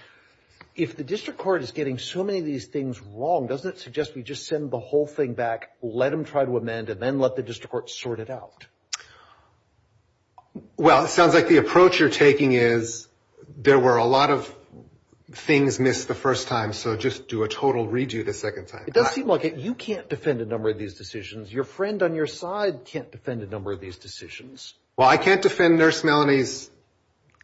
if the district court is getting so many of these things wrong, doesn't it suggest we just send the whole thing back, let them try to amend and then let the district court sort it out? Well, it sounds like the approach you're taking is there were a lot of things missed the first time. So just do a total redo the second time. It does seem like you can't defend a number of these decisions. Your friend on your side can't defend a number of these decisions. Well, I can't defend Nurse Malley's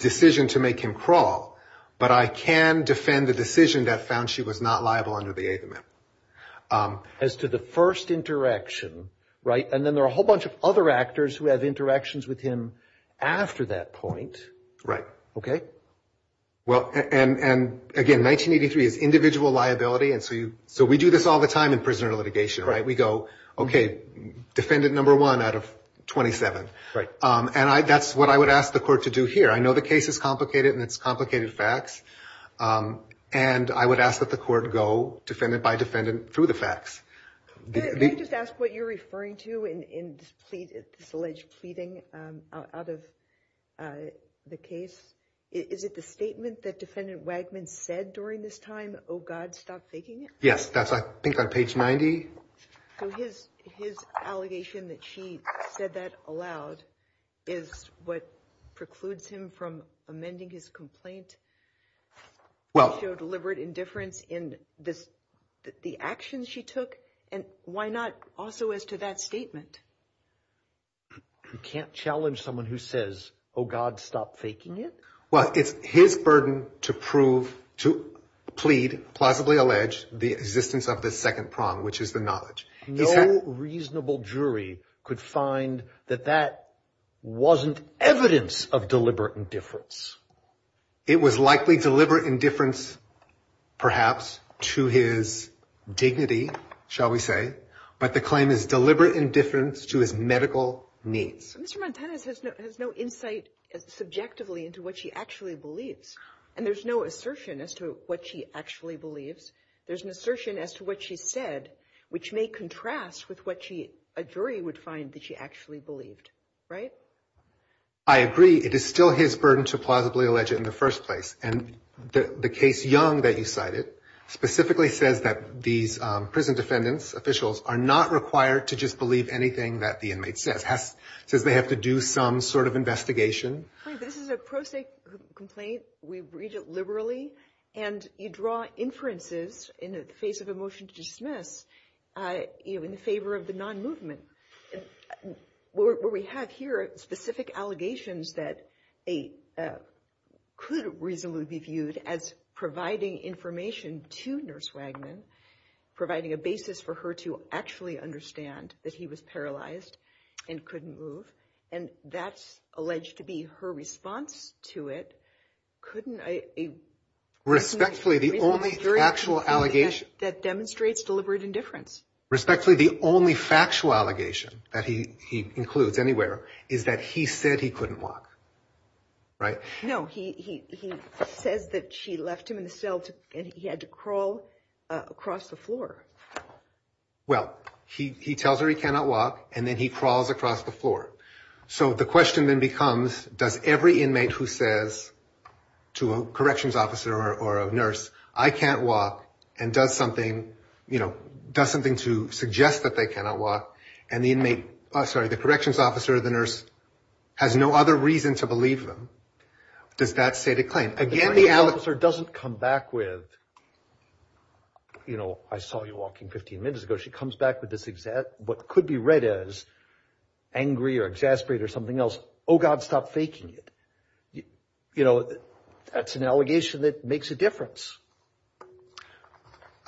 decision to make him crawl, but I can defend the decision that found she was not liable under the 8th Amendment. As to the first interaction, right? And then there are a whole bunch of other actors who have interactions with him after that point. Right. OK? Well, and again, 1983 is individual liability. So we do this all the time in prisoner litigation, right? We go, OK, defendant number one out of 27. And that's what I would ask the court to do here. I know the case is complicated and it's complicated facts. And I would ask that the court go defendant by defendant through the facts. Can I just ask what you're referring to in this alleged pleading out of the case? Is it the statement that Defendant Wagman said during this time? Oh, God, stop faking it. Yes, that's I think on page 90. So his allegation that she said that aloud is what precludes him from amending his complaint? Well, deliberate indifference in this, the actions she took. And why not also as to that statement? You can't challenge someone who says, oh, God, stop faking it. Well, it's his burden to prove, to plead, plausibly allege the existence of the second prong, which is the knowledge. No reasonable jury could find that that wasn't evidence of deliberate indifference. It was likely deliberate indifference, perhaps to his dignity, shall we say. But the claim is deliberate indifference to his medical needs. Mr. Montanez has no insight subjectively into what she actually believes. And there's no assertion as to what she actually believes. There's an assertion as to what she said, which may contrast with what a jury would find that she actually believed, right? I agree. It is still his burden to plausibly allege it in the first place. And the case, Young, that you cited specifically says that these prison defendants, officials, are not required to just believe anything that the inmate says. It says they have to do some sort of investigation. This is a pro se complaint. We read it liberally. And you draw inferences in the face of a motion to dismiss in favor of the non-movement. And what we have here are specific allegations that could reasonably be viewed as providing information to Nurse Wagman, providing a basis for her to actually understand that he was paralyzed and couldn't move. And that's alleged to be her response to it. Couldn't a... Respectfully, the only actual allegation... That demonstrates deliberate indifference. Respectfully, the only factual allegation that he includes anywhere is that he said he couldn't walk, right? No, he says that she left him in the cell and he had to crawl across the floor. Well, he tells her he cannot walk and then he crawls across the floor. So the question then becomes, does every inmate who says to a corrections officer or a nurse, I can't walk and does something, you know, does something to suggest that they cannot walk and the inmate, sorry, the corrections officer or the nurse has no other reason to believe them. Does that state a claim? Again, the... The corrections officer doesn't come back with, you know, I saw you walking 15 minutes ago. She comes back with this exact, what could be read as angry or exasperated or something else. Oh God, stop faking it. You know, that's an allegation that makes a difference.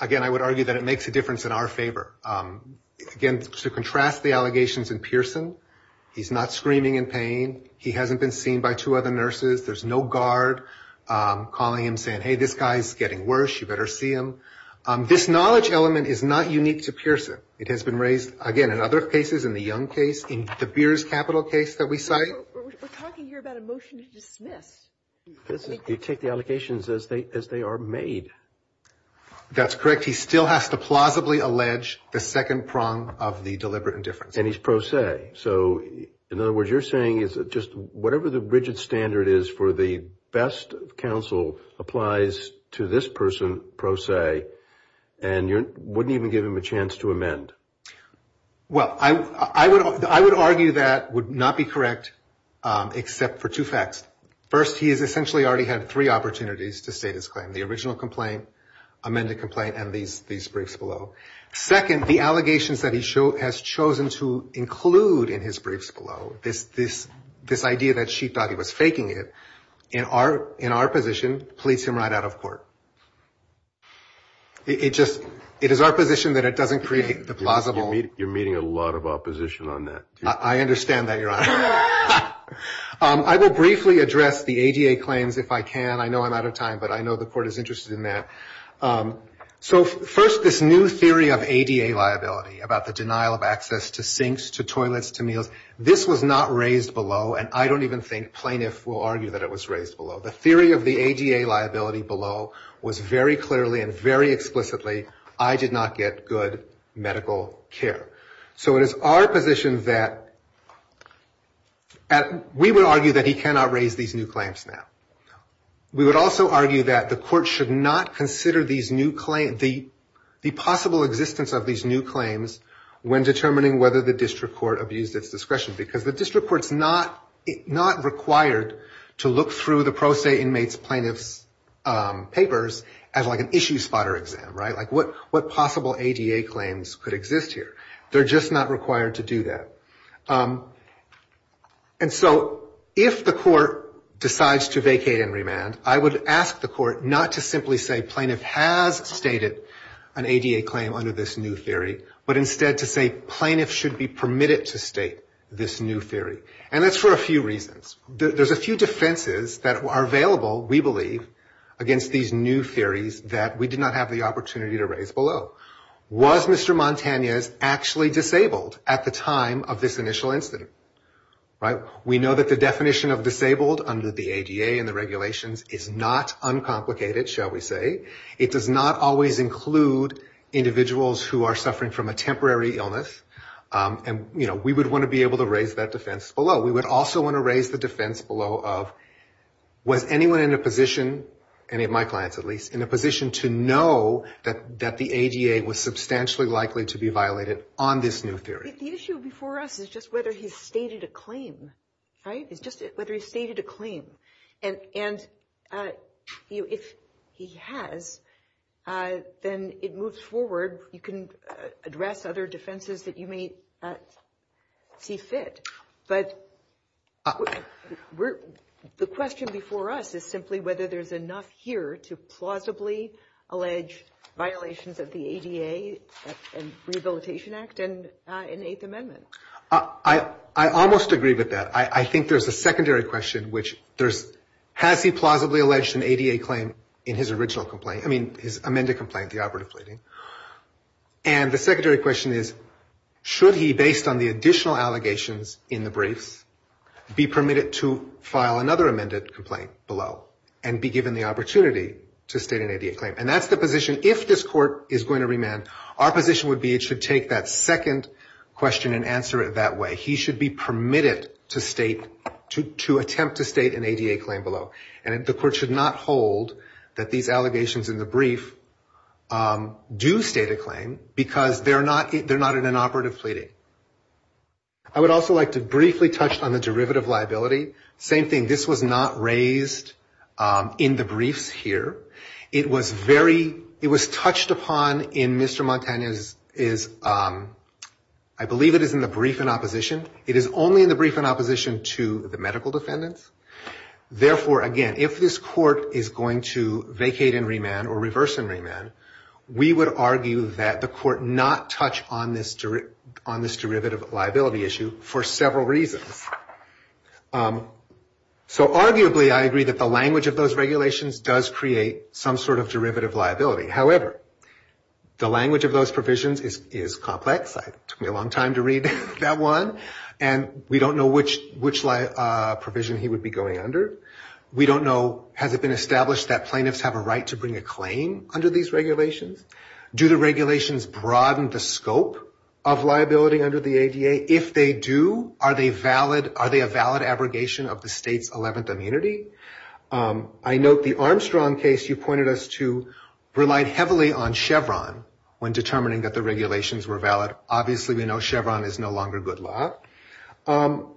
Again, I would argue that it makes a difference in our favor. Again, to contrast the allegations in Pearson, he's not screaming in pain. He hasn't been seen by two other nurses. There's no guard calling him saying, hey, this guy's getting worse. You better see him. This knowledge element is not unique to Pearson. It has been raised, again, in other cases, in the Young case, in the Beers Capital case that we cite. We're talking here about a motion to dismiss. You take the allegations as they are made. That's correct. He still has to plausibly allege the second prong of the deliberate indifference. And he's pro se. So in other words, you're saying is just whatever the rigid standard is for the best counsel applies to this person pro se, and you wouldn't even give him a chance to amend. Well, I would argue that would not be correct except for two facts. First, he has essentially already had three opportunities to state his claim, the original complaint, amended complaint, and these briefs below. Second, the allegations that he has chosen to include in his briefs below, this idea that she thought he was faking it, in our position, pleads him right out of court. It is our position that it doesn't create the plausible. You're meeting a lot of opposition on that. I understand that, Your Honor. I will briefly address the ADA claims if I can. I know I'm out of time, but I know the court is interested in that. So first, this new theory of ADA liability about the denial of access to sinks, to toilets, to meals, this was not raised below. And I don't even think plaintiffs will argue that it was raised below. The theory of the ADA liability below was very clearly and very explicitly, I did not get good medical care. So it is our position that we would argue that he cannot raise these new claims now. We would also argue that the court should not consider the possible existence of these new claims when determining whether the district court abused its discretion, because the district court's not required to look through the pro se inmate's plaintiff's papers as like an issue spotter exam, right? Like what possible ADA claims could exist here? They're just not required to do that. And so if the court decides to vacate and remand, I would ask the court not to simply say plaintiff has stated an ADA claim under this new theory, but instead to say plaintiff should be permitted to state this new theory. And that's for a few reasons. There's a few defenses that are available, we believe, against these new theories that we did not have the opportunity to raise below. Was Mr. Montanez actually disabled at the time of this initial incident, right? We know that the definition of disabled under the ADA and the regulations is not uncomplicated, shall we say. It does not always include individuals who are suffering from a temporary illness. And we would want to be able to raise that defense below. We would also want to raise the defense below of was anyone in a position, any of my clients at least, in a position to know that the ADA was substantially likely to be violated on this new theory. The issue before us is just whether he's stated a claim, right? It's just whether he's stated a claim. And if he has, then it moves forward. You can address other defenses that you may see fit. But the question before us is simply whether there's enough here to plausibly allege violations of the ADA and Rehabilitation Act and Eighth Amendment. I almost agree with that. I think there's a secondary question, which there's, has he plausibly alleged an ADA claim in his original complaint? I mean, his amended complaint, the operative pleading. And the secondary question is, should he, based on the additional allegations in the briefs, be permitted to file another amended complaint below and be given the opportunity to state an ADA claim? And that's the position, if this court is going to remand, our position would be it should take that second question and answer it that way. He should be permitted to attempt to state an ADA claim below. And the court should not hold that these allegations in the brief do state a claim because they're not in an operative pleading. I would also like to briefly touch on the derivative liability. Same thing. This was not raised in the briefs here. It was very, it was touched upon in Mr. Montana's, is, I believe it is in the brief in opposition. It is only in the brief in opposition to the medical defendants. Therefore, again, if this court is going to vacate and remand or reverse and remand, we would argue that the court not touch on this derivative liability issue for several reasons. So arguably, I agree that the language of those regulations does create some sort of derivative liability. However, the language of those provisions is complex. Took me a long time to read that one. And we don't know which provision he would be going under. We don't know, has it been established that plaintiffs have a right to bring a claim under these regulations? Do the regulations broaden the scope of liability under the ADA? If they do, are they valid? Are they a valid abrogation of the state's 11th immunity? I note the Armstrong case you pointed us to relied heavily on Chevron when determining that the regulations were valid. Obviously, we know Chevron is no longer good law. Oh,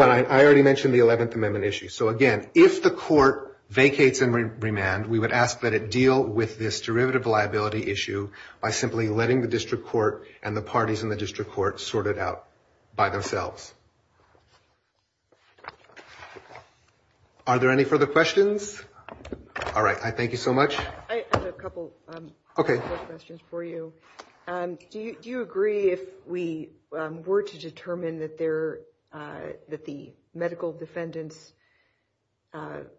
and I already mentioned the 11th Amendment issue. So again, if the court vacates and remand, we would ask that it deal with this derivative liability issue by simply letting the district court and the parties in the district court sort it out by themselves. Are there any further questions? All right, I thank you so much. I have a couple of questions for you. Do you agree if we were to determine that the medical defendants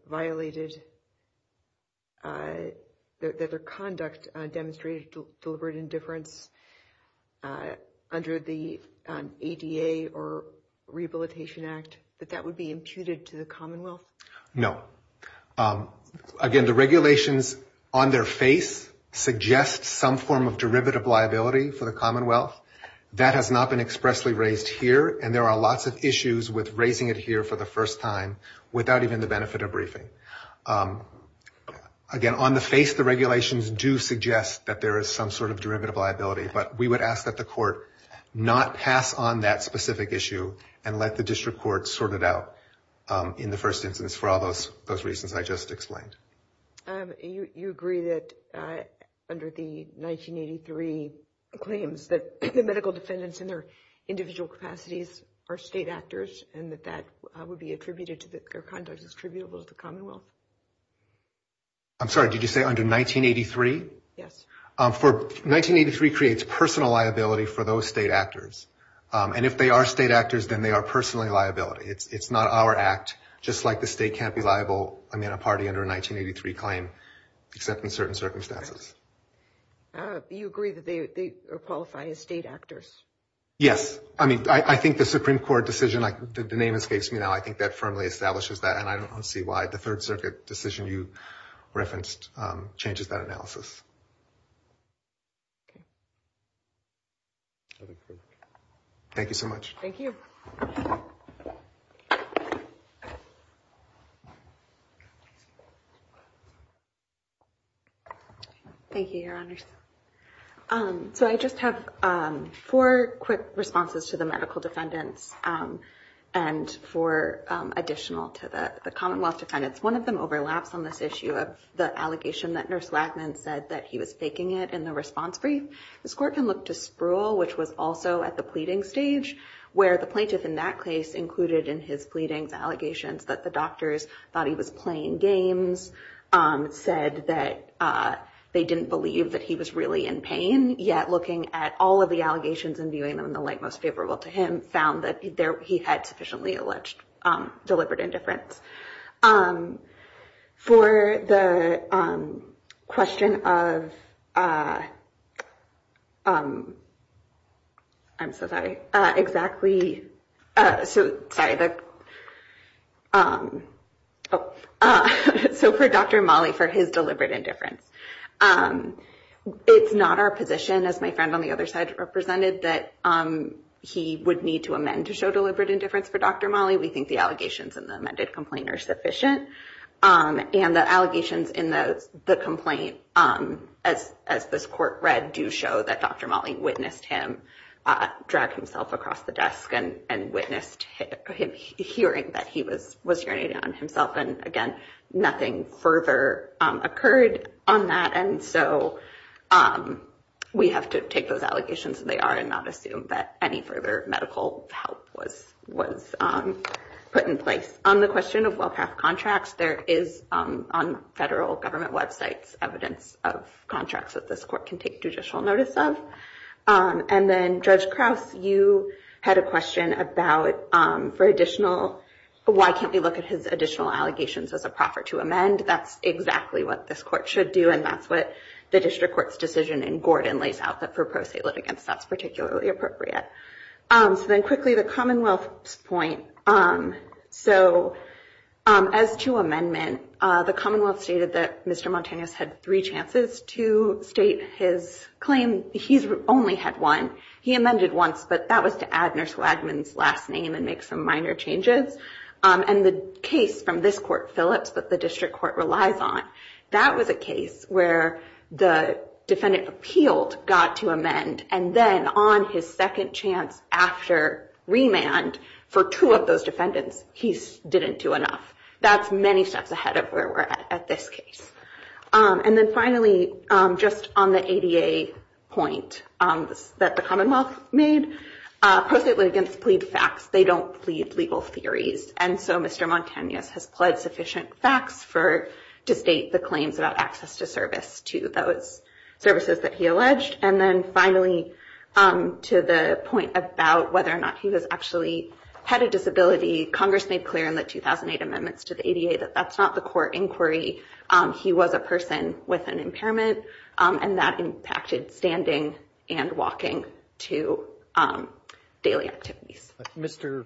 violated that their conduct demonstrated deliberate indifference under the ADA or Rehabilitation Act, that that would be imputed to the Commonwealth? No. Again, the regulations on their face suggest some form of derivative liability for the Commonwealth. That has not been expressly raised here. And there are lots of issues with raising it here for the first time without even the benefit of briefing. Again, on the face, the regulations do suggest that there is some sort of derivative liability. But we would ask that the court not pass on that specific issue and let the district court sort it out in the first instance for all those reasons I just explained. You agree that under the 1983 claims that the medical defendants in their individual capacities are state actors and that that would be attributed to their conduct is attributable to the Commonwealth? I'm sorry, did you say under 1983? Yes. 1983 creates personal liability for those state actors. And if they are state actors, then they are personally liability. It's not our act. Just like the state can't be liable in a party under a 1983 claim, except in certain circumstances. You agree that they are qualifying as state actors? Yes. I mean, I think the Supreme Court decision, the name escapes me now, I think that firmly establishes that. And I don't see why the Third Circuit decision you referenced changes that analysis. Thank you so much. Thank you. Thank you, Your Honors. So I just have four quick responses to the medical defendants and four additional to the Commonwealth defendants. One of them overlaps on this issue of the allegation that Nurse Lackmann said that he was faking it in the response brief. The court can look to Spruill, which was also at the pleading stage, where the plaintiff in that case included in his pleadings allegations that the doctors thought he was playing games, said that they didn't believe that he was really in pain. Yet looking at all of the allegations and viewing them in the light most favorable to him, found that he had sufficiently alleged deliberate indifference. For the question of, I'm so sorry, exactly, sorry, so for Dr. Mali, for his deliberate indifference. It's not our position, as my friend on the other side represented, that he would need to amend to show deliberate indifference for Dr. Mali. We think the allegations in the amended complaint are sufficient. And the allegations in the complaint, as this court read, do show that Dr. Mali witnessed him drag himself across the desk and witnessed him hearing that he was urinating on himself. And again, nothing further occurred on that. And so we have to take those allegations as they are and not assume that any further medical help was put in place. On the question of Wellcraft contracts, there is, on federal government websites, evidence of contracts that this court can take judicial notice of. And then, Judge Krauss, you had a question about for additional, why can't we look at his additional allegations as a proffer to amend? That's exactly what this court should do. And that's what the district court's decision in Gordon lays out that for pro se litigants, that's particularly appropriate. So then quickly, the Commonwealth's point. So as to amendment, the Commonwealth stated that Mr. Montanus had three chances to state his claim. He's only had one. He amended once, but that was to add Nurse Wagman's last name and make some minor changes. And the case from this court, Phillips, that the district court relies on, that was a case where the defendant appealed, got to amend. And then on his second chance after remand for two of those defendants, he didn't do enough. That's many steps ahead of where we're at this case. And then finally, just on the ADA point that the Commonwealth made, pro se litigants plead facts. They don't plead legal theories. And so Mr. Montanus has pled sufficient facts to state the claims about access to service to those services that he alleged. And then finally, to the point about whether or not he was actually had a disability, Congress made clear in the 2008 amendments to the ADA that that's not the core inquiry. He was a person with an impairment, and that impacted standing and walking to daily activities. Mr.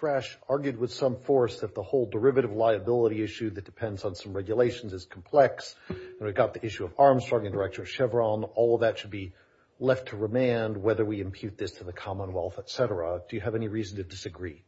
Thrash argued with some force that the whole derivative liability issue that depends on some regulations is complex. And we've got the issue of Armstrong and Director Chevron. All of that should be left to remand, whether we impute this to the Commonwealth, et cetera. Do you have any reason to disagree?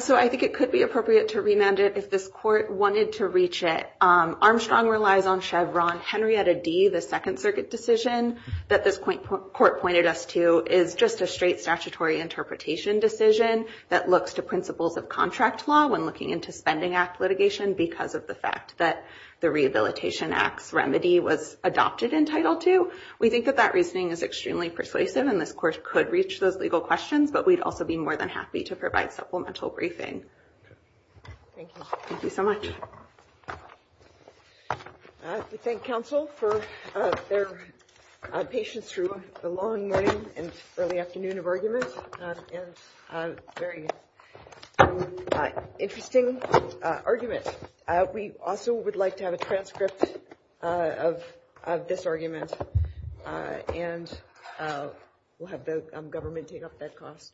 So I think it could be appropriate to remand it if this court wanted to reach it. Armstrong relies on Chevron. Henrietta Dee, the Second Circuit decision that this court pointed us to is just a straight statutory interpretation decision that looks to principles of contract law when looking into Spending Act litigation because of the fact that the Rehabilitation Act's remedy was adopted in Title II. We think that that reasoning is extremely persuasive, and this court could reach those legal questions. But we'd also be more than happy to provide supplemental briefing. Thank you. Thank you so much. We thank counsel for their patience through the long morning and early afternoon of argument. It's a very interesting argument. We also would like to have a transcript of this argument, and we'll have the government take up that cost.